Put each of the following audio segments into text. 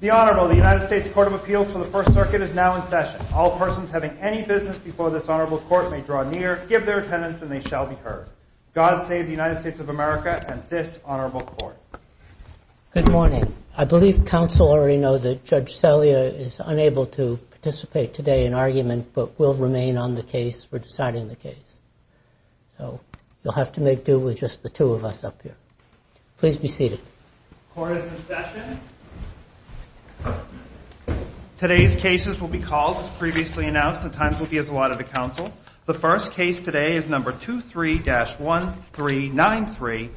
The Honourable United States Court of Appeals for the First Circuit is now in session. All persons having any business before this Honourable Court may draw near, give their attendance, and they shall be heard. God save the United States of America and this Honourable Court. Good morning. I believe Council already know that Judge Celia is unable to participate today in argument, but will remain on the case for deciding the case. So you'll have to make do with just the two of us up here. Please be seated. Court is in session. Today's cases will be called as previously announced. The times will be as allotted to Council. The first case today is No. 23-1393,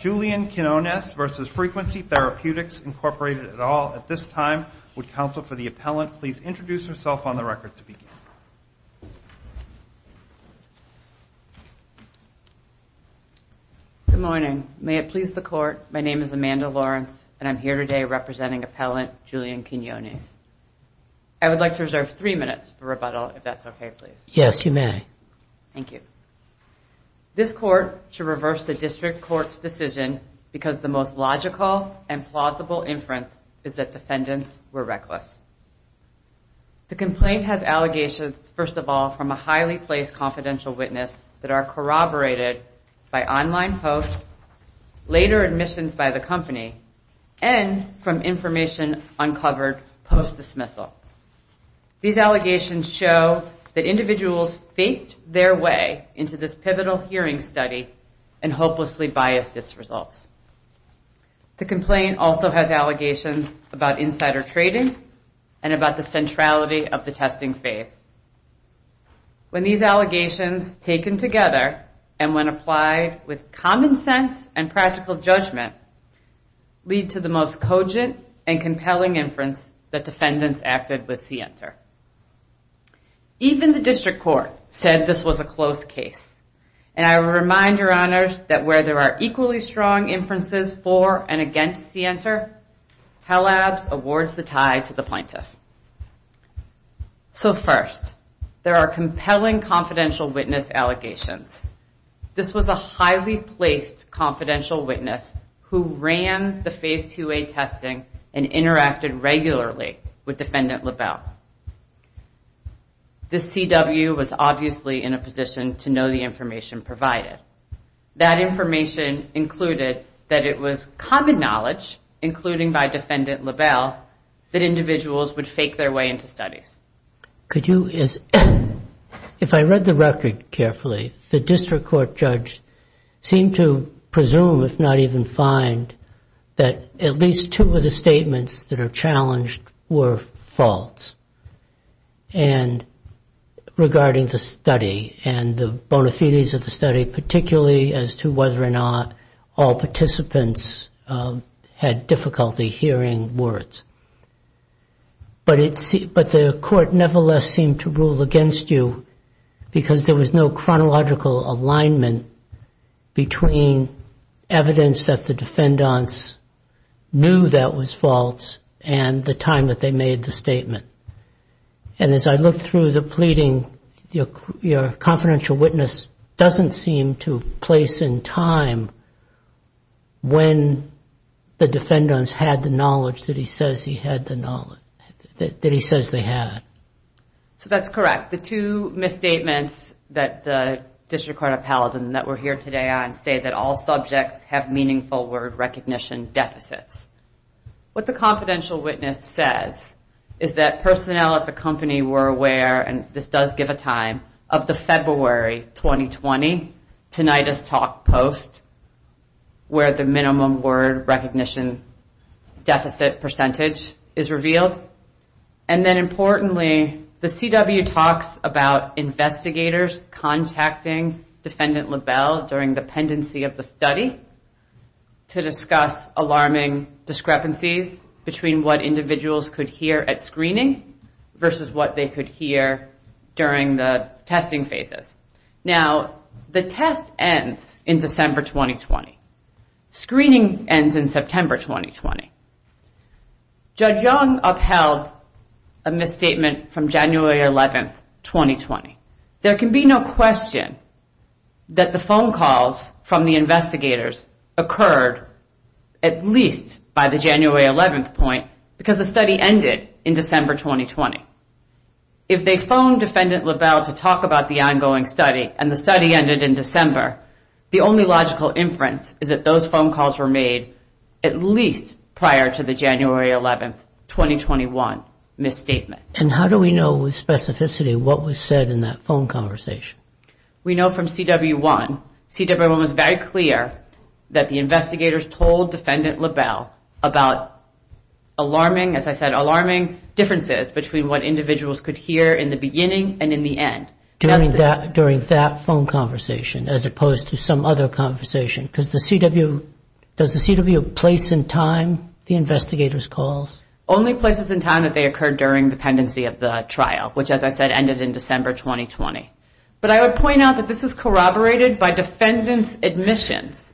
Julian Quinones v. Frequency Therapeutics, Inc. at all. At this time, would Council, for the appellant, please introduce yourself on the record to begin. Good morning. May it please the Court, my name is Amanda Lawrence, and I'm here today representing appellant Julian Quinones. I would like to reserve three minutes for rebuttal, if that's okay, please. Yes, you may. Thank you. This Court should reverse the District Court's decision because the most logical and plausible inference is that defendants were reckless. The complaint has allegations, first of all, from a highly placed confidential witness that are corroborated by online posts, later admissions by the company, and from information uncovered post-dismissal. These allegations show that individuals faked their way into this pivotal hearing study and hopelessly biased its results. The complaint also has allegations about insider trading and about the centrality of the testing phase. When these allegations, taken together and when applied with common sense and practical judgment, lead to the most cogent and compelling inference that defendants acted with CENTER. Even the District Court said this was a closed case. And I remind your honors that where there are equally strong inferences for and against CENTER, TELABs awards the tie to the plaintiff. So first, there are compelling confidential witness allegations. This was a highly placed confidential witness who ran the Phase 2A testing and interacted regularly with Defendant LaBelle. The CW was obviously in a position to know the information provided. That information included that it was common knowledge, including by Defendant LaBelle, that individuals would fake their way into studies. Could you, if I read the record carefully, the District Court judge seemed to presume, if not even find, that at least two of the statements that are challenged were false. And regarding the study and the bona fides of the study, particularly as to whether or not all participants had difficulty hearing words. But the court nevertheless seemed to rule against you because there was no chronological alignment between evidence that the defendants knew that was false and the time that they made the statement. And as I looked through the pleading, your confidential witness doesn't seem to place in time when the defendants had the knowledge that he says they had. So that's correct. The two misstatements that the District Court appellate and that we're here today on say that all subjects have meaningful word recognition deficits. What the confidential witness says is that personnel at the company were aware, and this does give a time, of the February 2020 Tinnitus Talk post. Where the minimum word recognition deficit percentage is revealed. And then importantly, the CW talks about investigators contacting Defendant LaBelle during the pendency of the study. To discuss alarming discrepancies between what individuals could hear at screening versus what they could hear during the testing phases. Now, the test ends in December 2020. Screening ends in September 2020. Judge Young upheld a misstatement from January 11th, 2020. There can be no question that the phone calls from the investigators occurred at least by the January 11th point, because the study ended in December 2020. If they phone Defendant LaBelle to talk about the ongoing study and the study ended in December, the only logical inference is that those phone calls were made at least prior to the January 11th, 2021 misstatement. And how do we know with specificity what was said in that phone conversation? We know from CW1, CW1 was very clear that the investigators told Defendant LaBelle about alarming, as I said, alarming differences between what individuals could hear in the beginning and in the end. During that phone conversation, as opposed to some other conversation. Because the CW, does the CW place in time the investigators' calls? Only places in time that they occurred during the pendency of the trial, which, as I said, ended in December 2020. But I would point out that this is corroborated by Defendant's admissions.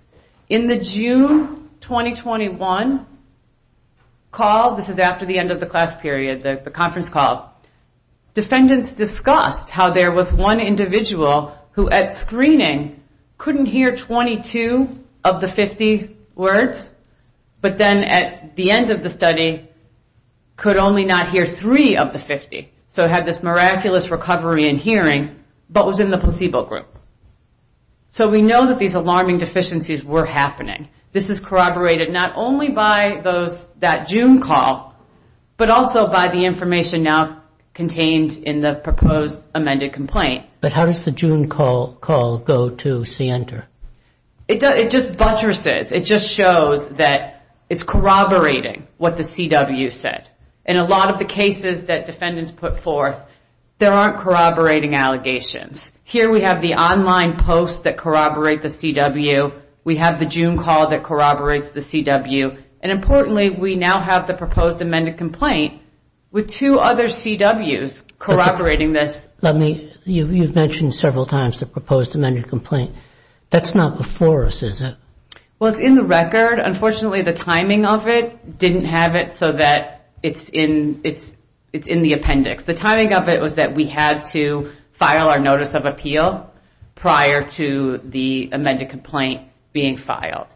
In the June 2021 call, this is after the end of the class period, the conference call, Defendants discussed how there was one individual who at screening couldn't hear 22, of the 50 words, but then at the end of the study, could only not hear three of the 50. So it had this miraculous recovery in hearing, but was in the placebo group. So we know that these alarming deficiencies were happening. This is corroborated not only by that June call, but also by the information now contained in the proposed amended complaint. But how does the June call go to CNTR? It just buttresses, it just shows that it's corroborating what the CW said. In a lot of the cases that Defendants put forth, there aren't corroborating allegations. Here we have the online posts that corroborate the CW, we have the June call that corroborates the CW. And importantly, we now have the proposed amended complaint with two other CWs corroborating this. You've mentioned several times the proposed amended complaint. That's not before us, is it? Well, it's in the record. Unfortunately, the timing of it didn't have it so that it's in the appendix. The timing of it was that we had to file our notice of appeal prior to the amended complaint being filed.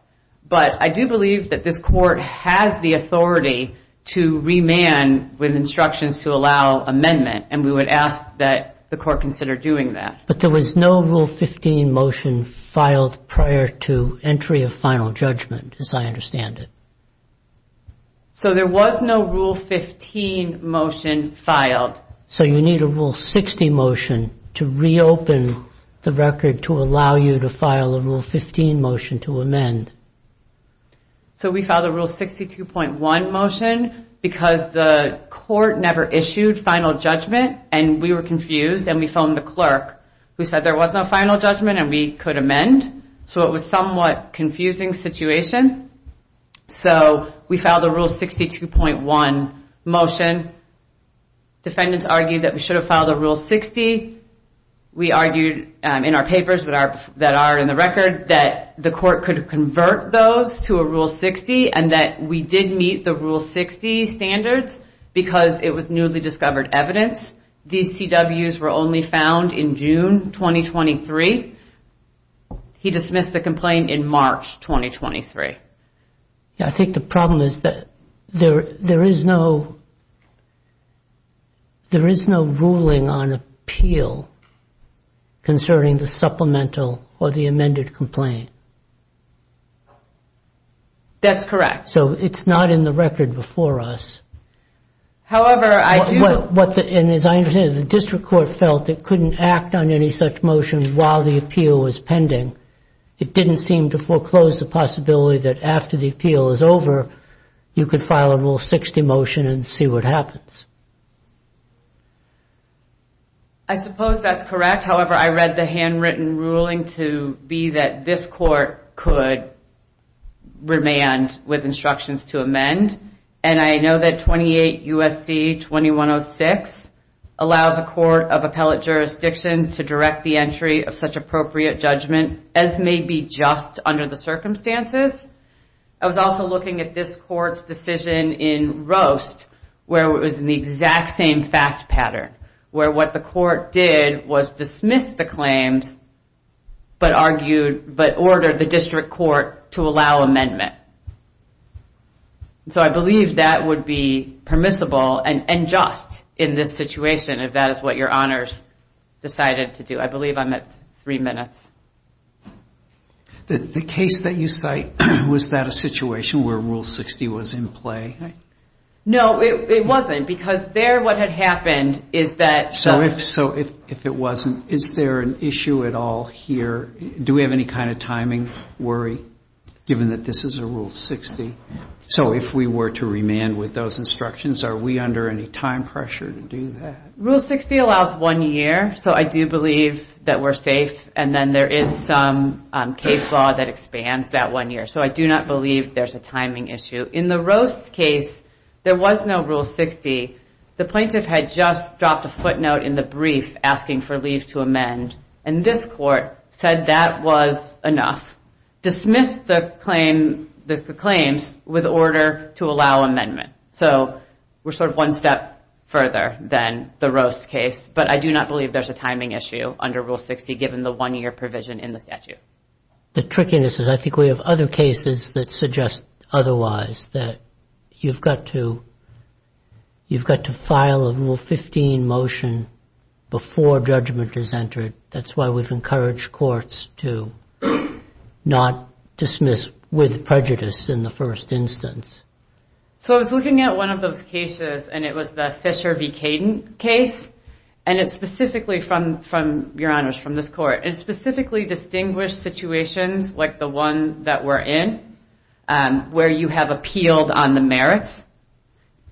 But I do believe that this court has the authority to remand with instructions to allow amendment. And we would ask that the court consider doing that. But there was no Rule 15 motion filed prior to entry of final judgment, as I understand it. So there was no Rule 15 motion filed. So you need a Rule 60 motion to reopen the record to allow you to file a Rule 15 motion to amend. So we filed a Rule 62.1 motion because the court never issued final judgment and we were confused and we phoned the clerk. We said there was no final judgment and we could amend. So it was somewhat confusing situation. So we filed a Rule 62.1 motion. Defendants argued that we should have filed a Rule 60. We argued in our papers that are in the record that the court could convert those to a Rule 60. And that we did meet the Rule 60 standards because it was newly discovered evidence. These CWs were only found in June 2023. He dismissed the complaint in March 2023. I think the problem is that there is no ruling on appeal concerning the supplemental or the amended complaint. That's correct. So it's not in the record before us. The district court felt it couldn't act on any such motion while the appeal was pending. It didn't seem to foreclose the possibility that after the appeal is over you could file a Rule 60 motion and see what happens. I suppose that's correct. However, I read the handwritten ruling to be that this court could remain with instructions to amend. And I know that 28 U.S.C. 2106 allows a court of appellate jurisdiction to direct the entry of such appropriate judgment. As may be just under the circumstances. I was also looking at this court's decision in Roast where it was in the exact same fact pattern. Where what the court did was dismiss the claims but ordered the district court to allow amendment. So I believe that would be permissible and just in this situation if that is what your honors decided to do. The case that you cite, was that a situation where Rule 60 was in play? No, it wasn't. Because there what had happened is that... So if it wasn't, is there an issue at all here? Do we have any kind of timing worry given that this is a Rule 60? So if we were to remand with those instructions, are we under any time pressure to do that? Rule 60 allows one year. So I do believe that we're safe. And then there is some case law that expands that one year. So I do not believe there's a timing issue. In the Roast case, there was no Rule 60. The plaintiff had just dropped a footnote in the brief asking for leave to amend. And this court said that was enough. Dismissed the claims with order to allow amendment. So we're sort of one step further than the Roast case. But I do not believe there's a timing issue under Rule 60 given the one year provision in the statute. The trickiness is I think we have other cases that suggest otherwise. You've got to file a Rule 15 motion before judgment is entered. That's why we've encouraged courts to not dismiss with prejudice in the first instance. So I was looking at one of those cases, and it was the Fisher v. Cadent case. And it specifically from, Your Honors, from this court, it specifically distinguished situations like the one that we're in, where you have appealed on the merits.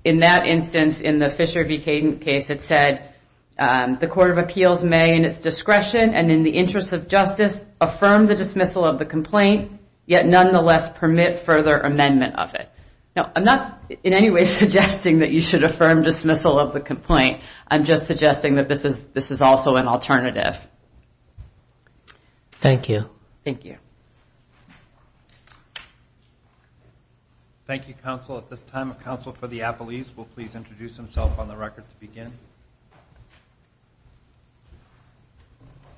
In that instance, in the Fisher v. Cadent case, it said the Court of Appeals may, in its discretion and in the interest of justice, affirm the dismissal of the complaint, yet nonetheless permit further amendment of it. I'm not in any way suggesting that you should affirm dismissal of the complaint. I'm just suggesting that this is also an alternative. Thank you. Thank you, counsel. At this time, a counsel for the appellees will please introduce himself on the record to begin.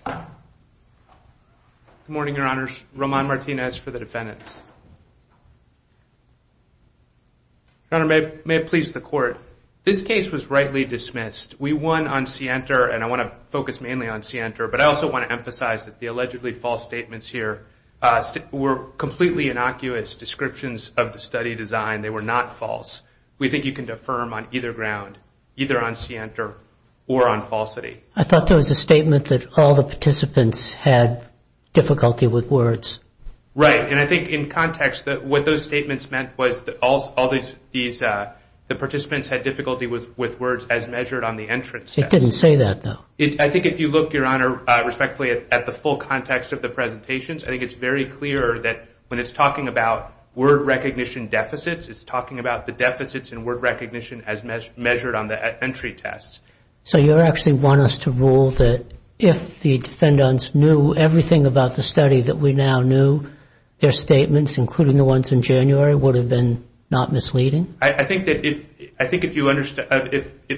Good morning, Your Honors. Roman Martinez for the defendants. Your Honor, may it please the Court, this case was rightly dismissed. We won on scienter, and I want to focus mainly on scienter, but I also want to emphasize that the allegedly false statements here were completely innocuous descriptions of the study design. They were not false. We think you can affirm on either ground, either on scienter or on falsity. I thought there was a statement that all the participants had difficulty with words. Right, and I think in context, what those statements meant was that all these participants had difficulty with words as measured on the entrance test. It didn't say that, though. I think if you look, Your Honor, respectfully at the full context of the presentations, I think it's very clear that when it's talking about word recognition deficits, it's talking about the deficits in word recognition as measured on the entry test. So you actually want us to rule that if the defendants knew everything about the study that we now knew, their statements, including the ones in January, would have been not misleading? I think if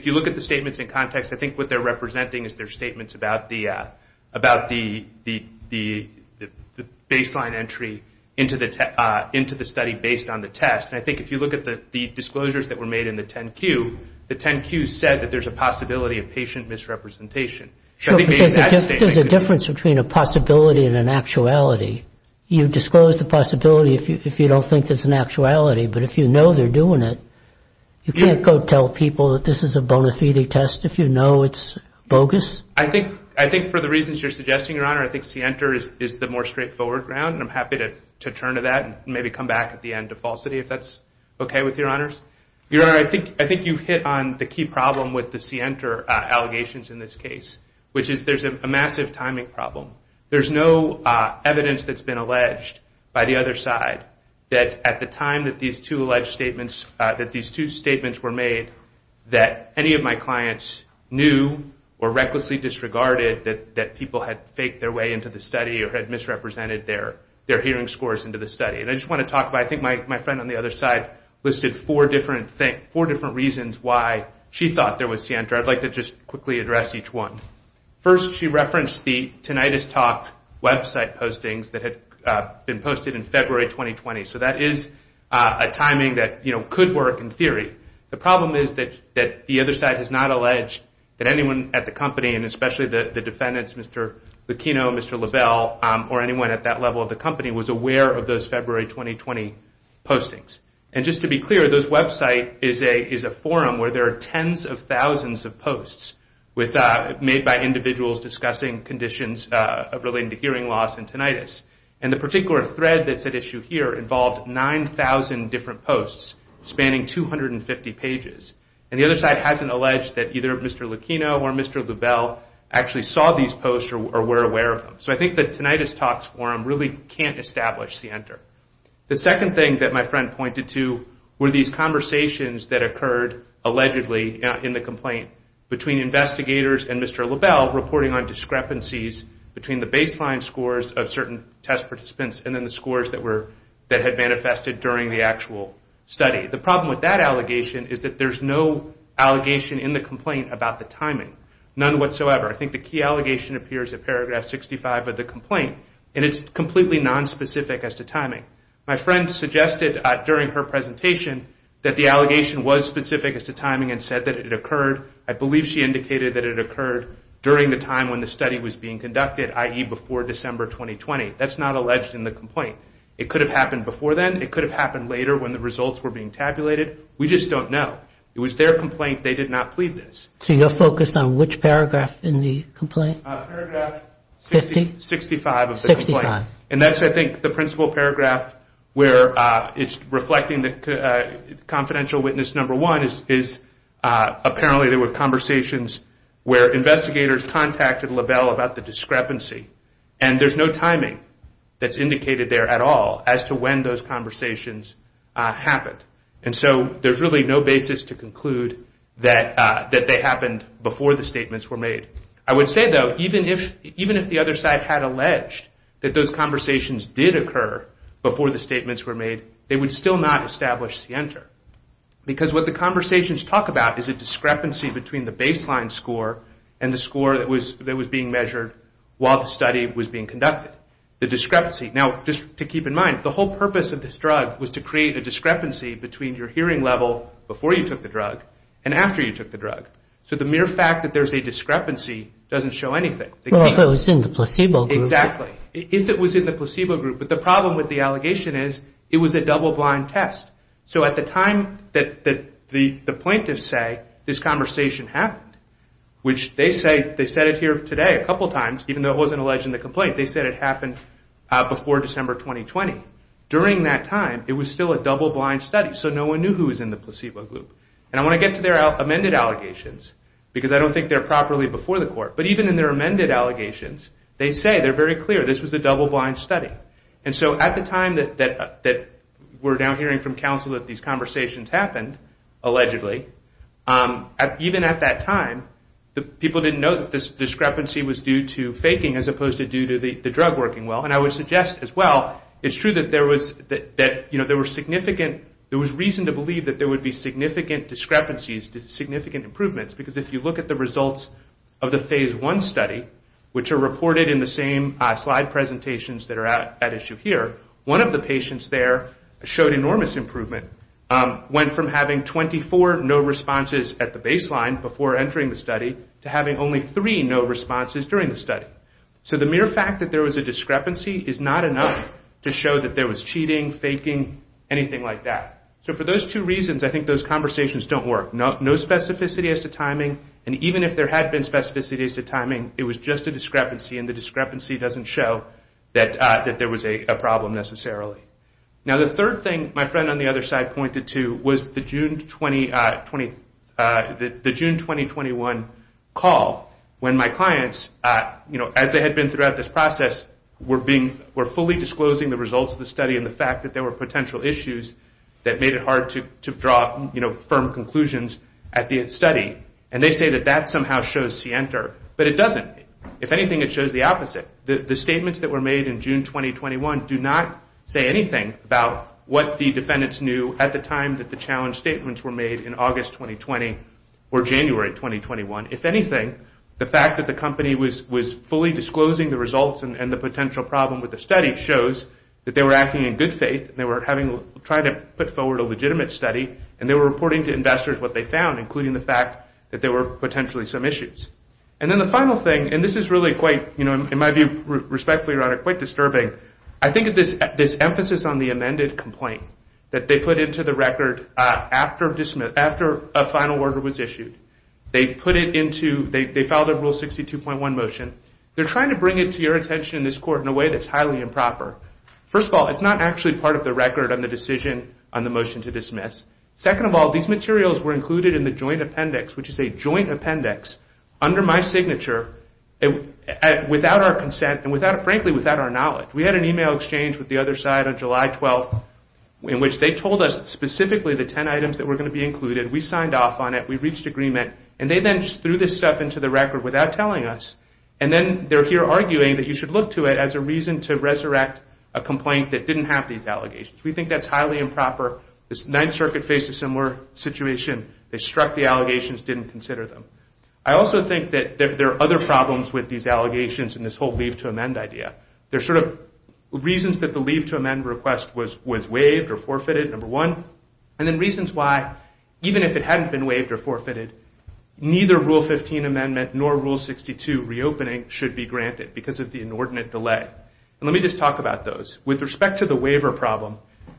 you look at the statements in context, I think what they're representing is their statements about the baseline entry into the study based on the test. And I think if you look at the disclosures that were made in the 10Q, the 10Q said that there's a possibility of patient misrepresentation. There's a difference between a possibility and an actuality. You disclose the possibility if you don't think there's an actuality, but if you know they're doing it, you can't go tell people that this is a bona fide test if you know it's bogus? I think for the reasons you're suggesting, Your Honor, I think CENTER is the more straightforward ground, and I'm happy to turn to that and maybe come back at the end to falsity if that's okay with Your Honors. I think you've hit on the key problem with the CENTER allegations in this case, which is there's a massive timing problem. There's no evidence that's been alleged by the other side that at the time that these two alleged statements, that these two statements were made, that any of my clients knew or recklessly disregarded that people had faked their way into the study or had misrepresented their hearing scores into the study. And I just want to talk about, I think my friend on the other side listed four different reasons why she thought there was CENTER. I'd like to just quickly address each one. First, she referenced the Tinnitus Talk website postings that had been posted in February 2020. So that is a timing that could work in theory. The problem is that the other side has not alleged that anyone at the company, and especially the defendants, Mr. Locchino, Mr. Lavelle, or anyone at that level of the company was aware of those February 2020 postings. And just to be clear, this website is a forum where there are tens of thousands of posts made by individuals discussing conditions relating to hearing loss and tinnitus. And the particular thread that's at issue here involved 9,000 different posts spanning 250 pages. And the other side hasn't alleged that either Mr. Locchino or Mr. Lavelle actually saw these posts or were aware of them. So I think the Tinnitus Talks forum really can't establish CENTER. The second thing that my friend pointed to were these conversations that occurred allegedly in the complaint between investigators and Mr. Lavelle reporting on discrepancies between the baseline scores of certain test participants and then the scores that had manifested during the actual study. The problem with that allegation is that there's no allegation in the complaint about the timing. None whatsoever. I think the key allegation appears in paragraph 65 of the complaint, and it's completely nonspecific as to timing. My friend suggested during her presentation that the allegation was specific as to timing and said that it occurred. I believe she indicated that it occurred during the time when the study was being conducted, i.e., before December 2020. That's not alleged in the complaint. It could have happened before then. It could have happened later when the results were being tabulated. We just don't know. It was their complaint. They did not plead this. So you're focused on which paragraph in the complaint? Paragraph 65 of the complaint. And that's, I think, the principal paragraph where it's reflecting the confidential witness number one is apparently there were conversations where investigators contacted Lavelle about the discrepancy, and there's no timing that's indicated there at all as to when those conversations happened. And so there's really no basis to conclude that they happened before the statements were made. I would say, though, even if the other side had alleged that those conversations did occur before the statements were made, they would still not establish the enter. Because what the conversations talk about is a discrepancy between the baseline score and the score that was being measured while the study was being conducted. The discrepancy. Now, just to keep in mind, the whole purpose of this drug was to create a discrepancy between your hearing level before you took the drug and after you took the drug. So the mere fact that there's a discrepancy doesn't show anything. Well, if it was in the placebo group. Exactly. If it was in the placebo group. But the problem with the allegation is it was a double blind test. So at the time that the plaintiffs say this conversation happened, which they say they said it here today a couple times, even though it wasn't alleged in the complaint, they said it happened before December 2020. During that time, it was still a double blind study. So no one knew who was in the placebo group. And I want to get to their amended allegations, because I don't think they're properly before the court. But even in their amended allegations, they say they're very clear this was a double blind study. And so at the time that we're now hearing from counsel that these conversations happened, allegedly, even at that time, people didn't know that this discrepancy was due to faking as opposed to due to the drug working well. And I would suggest as well, it's true that there was reason to believe that there would be significant discrepancies, significant improvements, because if you look at the results of the Phase I study, which are reported in the same slide presentations that are at issue here, one of the patients there showed enormous improvement. Went from having 24 no responses at the baseline before entering the study to having only three no responses during the study. So the mere fact that there was a discrepancy is not enough to show that there was cheating, faking, anything like that. So for those two reasons, I think those conversations don't work. No specificity as to timing. And even if there had been specificity as to timing, it was just a discrepancy, and the discrepancy doesn't show that there was a problem necessarily. Now, the third thing my friend on the other side pointed to was the June 2021 call, when my clients, as they had been throughout this process, were fully disclosing the results of the study and the fact that there were potential issues that made it hard to draw firm conclusions at the study. And they say that that somehow shows scienter, but it doesn't. If anything, it shows the opposite. The statements that were made in June 2021 do not say anything about what the defendants knew at the time that the challenge statements were made in August 2020 or January 2021. If anything, the fact that the company was fully disclosing the results and the potential problem with the study shows that they were acting in good faith and they were trying to put forward a legitimate study and they were reporting to investors what they found, including the fact that there were potentially some issues. And then the final thing, and this is really quite, in my view, respectfully, Your Honor, quite disturbing. I think of this emphasis on the amended complaint that they put into the record after a final order was issued. They filed a Rule 62.1 motion. They're trying to bring it to your attention in this court in a way that's highly improper. First of all, it's not actually part of the record on the decision on the motion to dismiss. Second of all, these materials were included in the joint appendix, which is a joint appendix, under my signature without our consent and, frankly, without our knowledge. We had an email exchange with the other side on July 12th in which they told us specifically the 10 items that were going to be included. We signed off on it. We reached agreement. And they then just threw this stuff into the record without telling us. And then they're here arguing that you should look to it as a reason to resurrect a complaint that didn't have these allegations. We think that's highly improper. The Ninth Circuit faced a similar situation. They struck the allegations, didn't consider them. I also think that there are other problems with these allegations and this whole leave to amend idea. There's sort of reasons that the leave to amend request was waived or forfeited, number one, and then reasons why, even if it hadn't been waived or forfeited, neither Rule 15 amendment nor Rule 62 reopening should be granted because of the inordinate delay. Let me just talk about those. With respect to the waiver problem,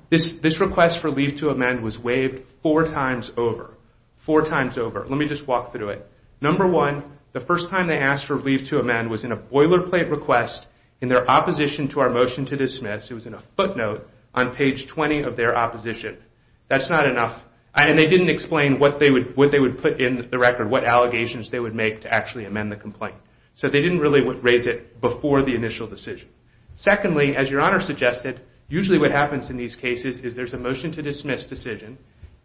this request for leave to amend was waived four times over. Four times over. Let me just walk through it. Number one, the first time they asked for leave to amend was in a boilerplate request in their opposition to our motion to dismiss. It was in a footnote on page 20 of their opposition. That's not enough. And they didn't explain what they would put in the record, what allegations they would make to actually amend the complaint. So they didn't really raise it before the initial decision. Secondly, as Your Honor suggested, usually what happens in these cases is there's a motion to dismiss decision,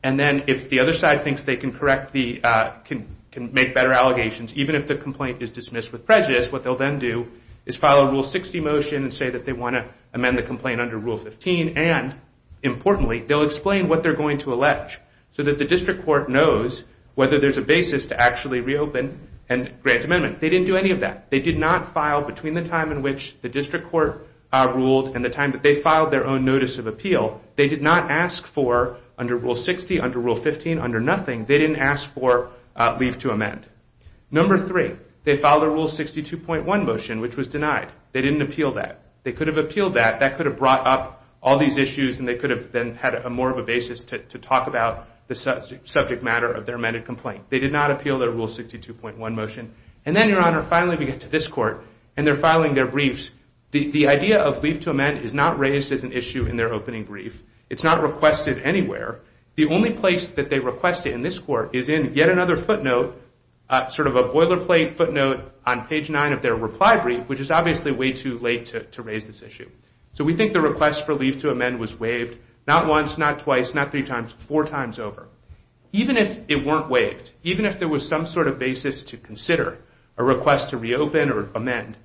and then if the other side thinks they can make better allegations, even if the complaint is dismissed with prejudice, what they'll then do is file a Rule 60 motion and say that they want to amend the complaint under Rule 15, and importantly, they'll explain what they're going to allege so that the district court knows whether there's a basis to actually reopen and grant amendment. They didn't do any of that. They did not file between the time in which the district court ruled and the time that they filed their own notice of appeal. They did not ask for, under Rule 60, under Rule 15, under nothing, they didn't ask for leave to amend. Number three, they filed a Rule 62.1 motion, which was denied. They didn't appeal that. They could have appealed that. That could have brought up all these issues, and they could have then had more of a basis to talk about the subject matter of their amended complaint. They did not appeal their Rule 62.1 motion. And then, Your Honor, finally we get to this court, and they're filing their briefs. The idea of leave to amend is not raised as an issue in their opening brief. It's not requested anywhere. The only place that they request it in this court is in yet another footnote, sort of a boilerplate footnote, on page 9 of their reply brief, which is obviously way too late to raise this issue. So we think the request for leave to amend was waived not once, not twice, not three times, four times over. Even if it weren't waived, even if there was some sort of basis to consider a request to reopen or amend,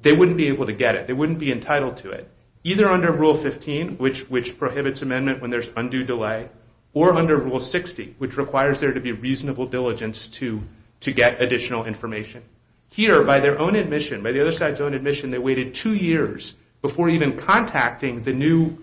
they wouldn't be able to get it. They wouldn't be entitled to it, either under Rule 15, which prohibits amendment when there's undue delay, or under Rule 60, which requires there to be reasonable diligence to get additional information. Here, by their own admission, by the other side's own admission, they waited two years before even contacting the new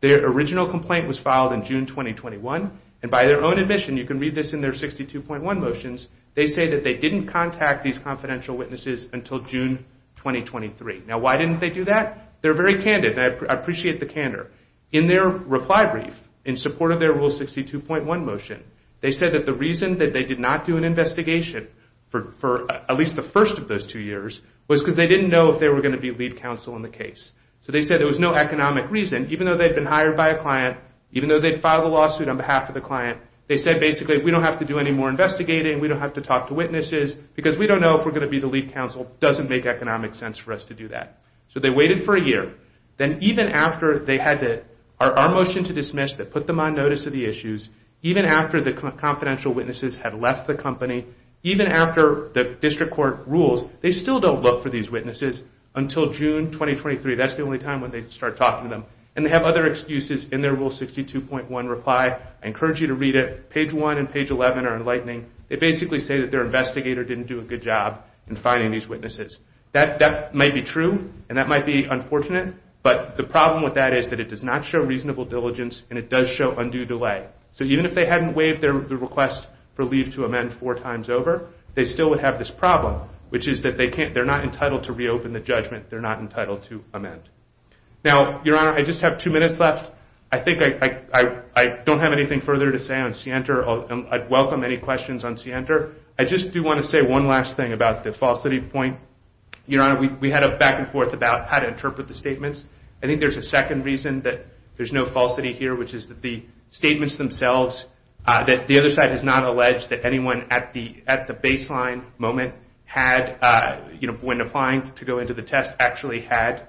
The original complaint was filed in June 2021, and by their own admission, you can read this in their 62.1 motions, they say that they didn't contact these confidential witnesses until June 2023. Now, why didn't they do that? They're very candid, and I appreciate the candor. In their reply brief, in support of their Rule 62.1 motion, they said that the reason that they did not do an investigation for at least the first of those two years was because they didn't know if they were going to be lead counsel in the case. So they said there was no economic reason, even though they'd been hired by a client, even though they'd filed a lawsuit on behalf of the client, they said, basically, we don't have to do any more investigating, we don't have to talk to witnesses, because we don't know if we're going to be the lead counsel. It doesn't make economic sense for us to do that. So they waited for a year. Then, even after they had our motion to dismiss that put them on notice of the issues, even after the confidential witnesses had left the company, even after the District Court rules, they still don't look for these witnesses until June 2023. That's the only time when they start talking to them. And they have other excuses in their Rule 62.1 reply. I encourage you to read it. Page 1 and page 11 are enlightening. They basically say that their investigator didn't do a good job in finding these witnesses. That might be true, and that might be unfortunate, but the problem with that is that it does not show reasonable diligence, and it does show undue delay. So even if they hadn't waived their request for leave to amend four times over, they still would have this problem, which is that they're not entitled to reopen the judgment. They're not entitled to amend. Now, Your Honor, I just have two minutes left. I think I don't have anything further to say on Sienter. I'd welcome any questions on Sienter. I just do want to say one last thing about the falsity point. Your Honor, we had a back-and-forth about how to interpret the statements. I think there's a second reason that there's no falsity here, which is that the statements themselves, that the other side has not alleged that anyone at the baseline moment had, when applying to go into the test, actually had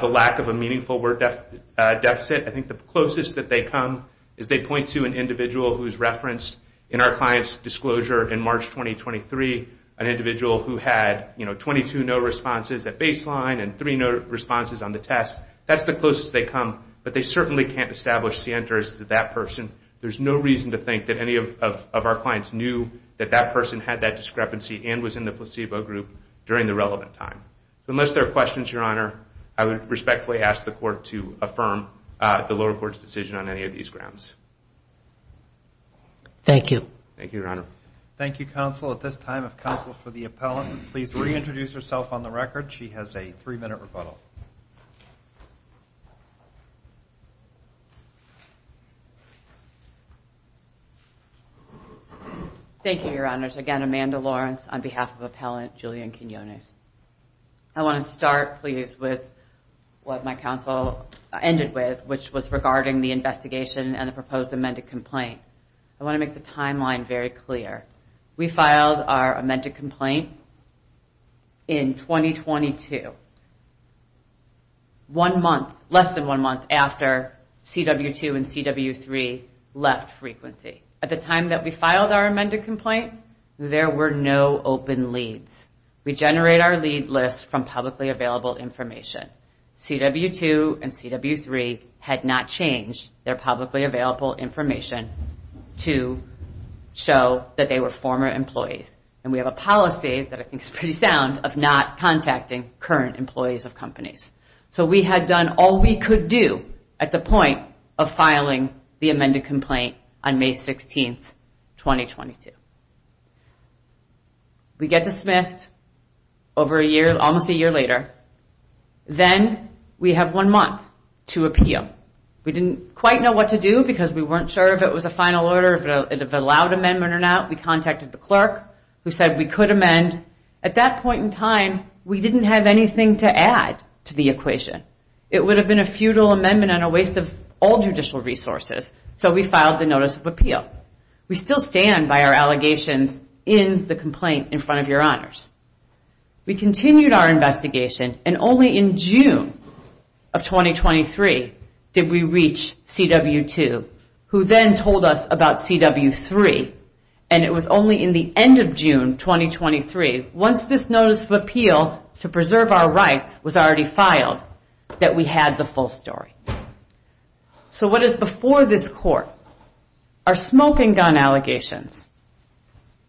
the lack of a meaningful word deficit. I think the closest that they come is they point to an individual who's referenced in our client's disclosure in March 2023, an individual who had 22 no responses at baseline and three no responses on the test. That's the closest they come, but they certainly can't establish Sienter as that person. There's no reason to think that any of our clients knew that that person had that discrepancy and was in the placebo group during the relevant time. Unless there are questions, Your Honor, I would respectfully ask the court to affirm the lower court's decision on any of these grounds. Thank you. Thank you, counsel. At this time, if counsel for the appellant would please reintroduce herself on the record. She has a three-minute rebuttal. Thank you, Your Honors. Again, Amanda Lawrence on behalf of Appellant Julian Quinones. I want to start, please, with what my counsel ended with, which was regarding the investigation and the proposed amended complaint. I want to make the timeline very clear. We filed our amended complaint in 2022, one month, less than one month after CW2 and CW3 left frequency. At the time that we filed our amended complaint, there were no open leads. We generate our lead list from publicly available information. CW2 and CW3 had not changed their publicly available information to show that they were former employees. And we have a policy that I think is pretty sound of not contacting current employees of companies. So we had done all we could do at the point of filing the amended complaint on May 16, 2022. We get dismissed over a year, almost a year later. Then we have one month to appeal. We didn't quite know what to do because we weren't sure if it was a final order, if it allowed amendment or not. We contacted the clerk who said we could amend. At that point in time, we didn't have anything to add to the equation. It would have been a futile amendment and a waste of all judicial resources. So we filed the notice of appeal. We still stand by our allegations in the complaint in front of your honors. We continued our investigation and only in June of 2023 did we reach CW2, who then told us about CW3. And it was only in the end of June 2023, once this notice of appeal to preserve our rights was already filed, that we had the full story. So what is before this court are smoke and gun allegations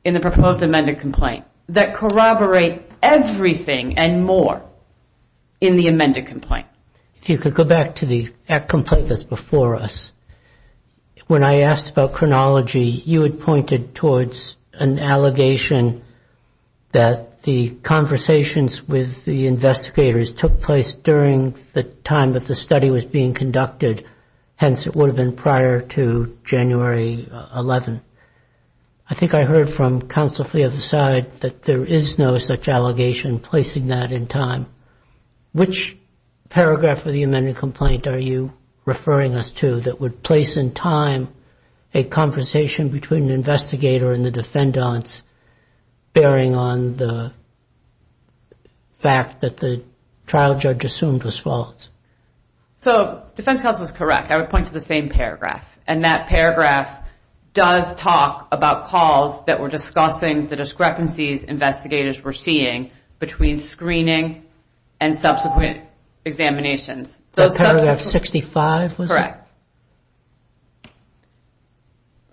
in the proposed amended complaint that corroborate everything and more in the amended complaint. If you could go back to the complaint that's before us, when I asked about chronology, you had pointed towards an allegation that the conversations with the investigators took place during the time that the study was being conducted. Hence, it would have been prior to January 11. I think I heard from Counselor Flea of the side that there is no such allegation placing that in time. Which paragraph of the amended complaint are you referring us to that would place in time a conversation between the investigator and the defendants, bearing on the fact that the trial judge assumed was false? So defense counsel is correct. I would point to the same paragraph. And that paragraph does talk about calls that were discussing the discrepancies investigators were seeing between screening and subsequent examinations. That paragraph 65 was it? Correct.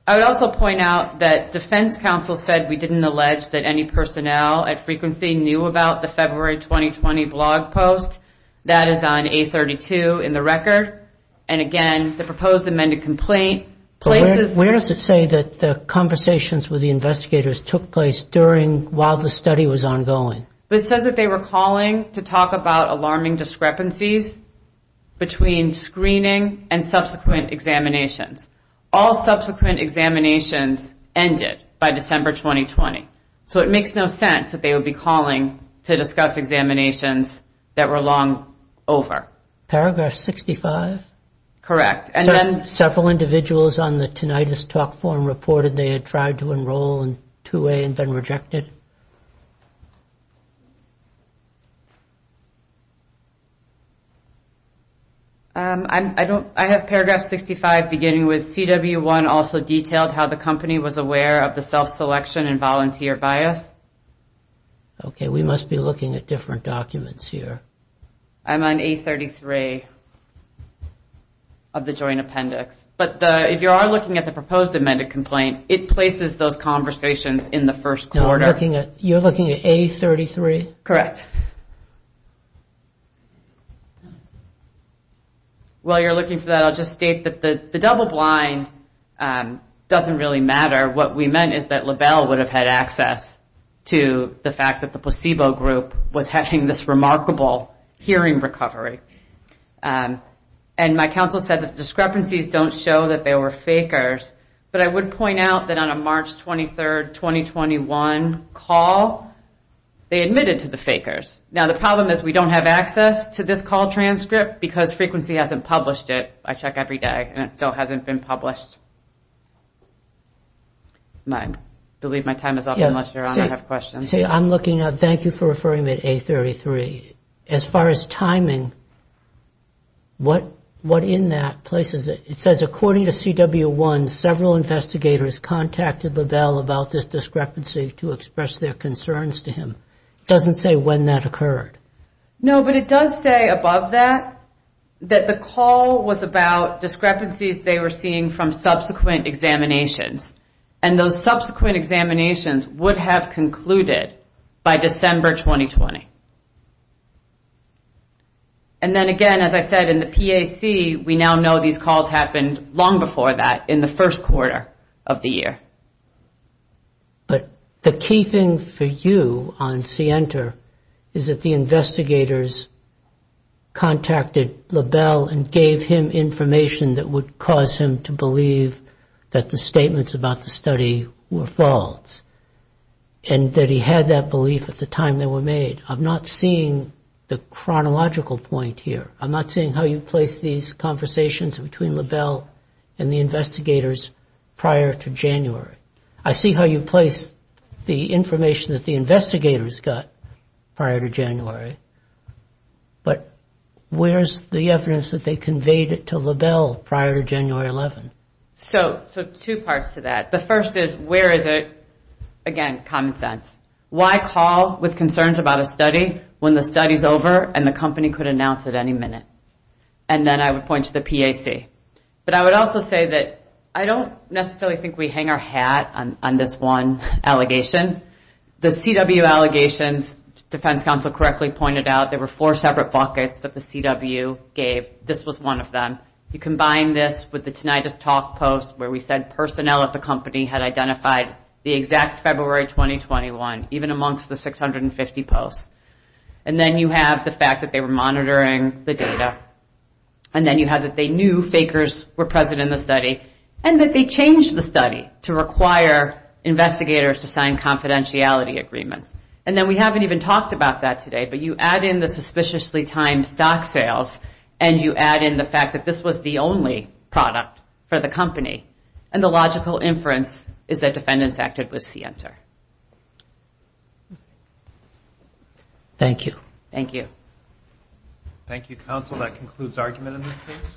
I would also point out that defense counsel said we didn't allege that any personnel at frequency knew about the February 2020 blog post. That is on A32 in the record. And again, the proposed amended complaint places... Where does it say that the conversations with the investigators took place during, while the study was ongoing? It says that they were calling to talk about alarming discrepancies between screening and subsequent examinations. All subsequent examinations ended by December 2020. So it makes no sense that they would be calling to discuss examinations that were long over. Paragraph 65? Correct. Several individuals on the Tinnitus Talk Forum reported they had tried to enroll in 2A and been rejected. I have paragraph 65 beginning with, CW1 also detailed how the company was aware of the self-selection and volunteer bias. Okay, we must be looking at different documents here. I'm on A33 of the joint appendix. But if you are looking at the proposed amended complaint, it places those conversations in the first quarter. You're looking at A33? Correct. While you're looking for that, I'll just state that the double blind doesn't really matter. What we meant is that LaBelle would have had access to the fact that the placebo group was having this remarkable hearing recovery. And my counsel said that the discrepancies don't show that they were fakers. But I would point out that on a March 23, 2021 call, they admitted to the fakers. Now, the problem is we don't have access to this call transcript because Frequency hasn't published it. I check every day and it still hasn't been published. I believe my time is up unless Your Honor has questions. Thank you for referring me to A33. As far as timing, what in that places it? It says according to CW1, several investigators contacted LaBelle about this discrepancy to express their concerns to him. It doesn't say when that occurred. No, but it does say above that, that the call was about discrepancies they were seeing from subsequent examinations. And those subsequent examinations would have concluded by December 2020. And then again, as I said, in the PAC, we now know these calls happened long before that in the first quarter of the year. But the key thing for you on CENTER is that the investigators contacted LaBelle and gave him information that would cause him to believe that the statements about the study were false. And that he had that belief at the time they were made. I'm not seeing the chronological point here. I'm not seeing how you place these conversations between LaBelle and the investigators prior to January. I see how you place the information that the investigators got prior to January, but where's the evidence that they conveyed it to LaBelle prior to January 11? So two parts to that. The first is, where is it? Again, common sense. Why call with concerns about a study when the study's over and the company could announce it any minute? And then I would point to the PAC. But I would also say that I don't necessarily think we hang our hat on this one allegation. The CW allegations, defense counsel correctly pointed out, there were four separate buckets that the CW gave. This was one of them. You combine this with the Tinnitus Talk post where we said personnel at the company had identified the exact February 2021, even amongst the 650 posts. And then you have the fact that they were monitoring the data. And then you have that they knew fakers were present in the study. And that they changed the study to require investigators to sign confidentiality agreements. And then we haven't even talked about that today, but you add in the suspiciously timed stock sales, and you add in the fact that this was the only product for the company. And the logical inference is that defendants acted with SIENTA. Thank you. Thank you, counsel. That concludes argument in this case.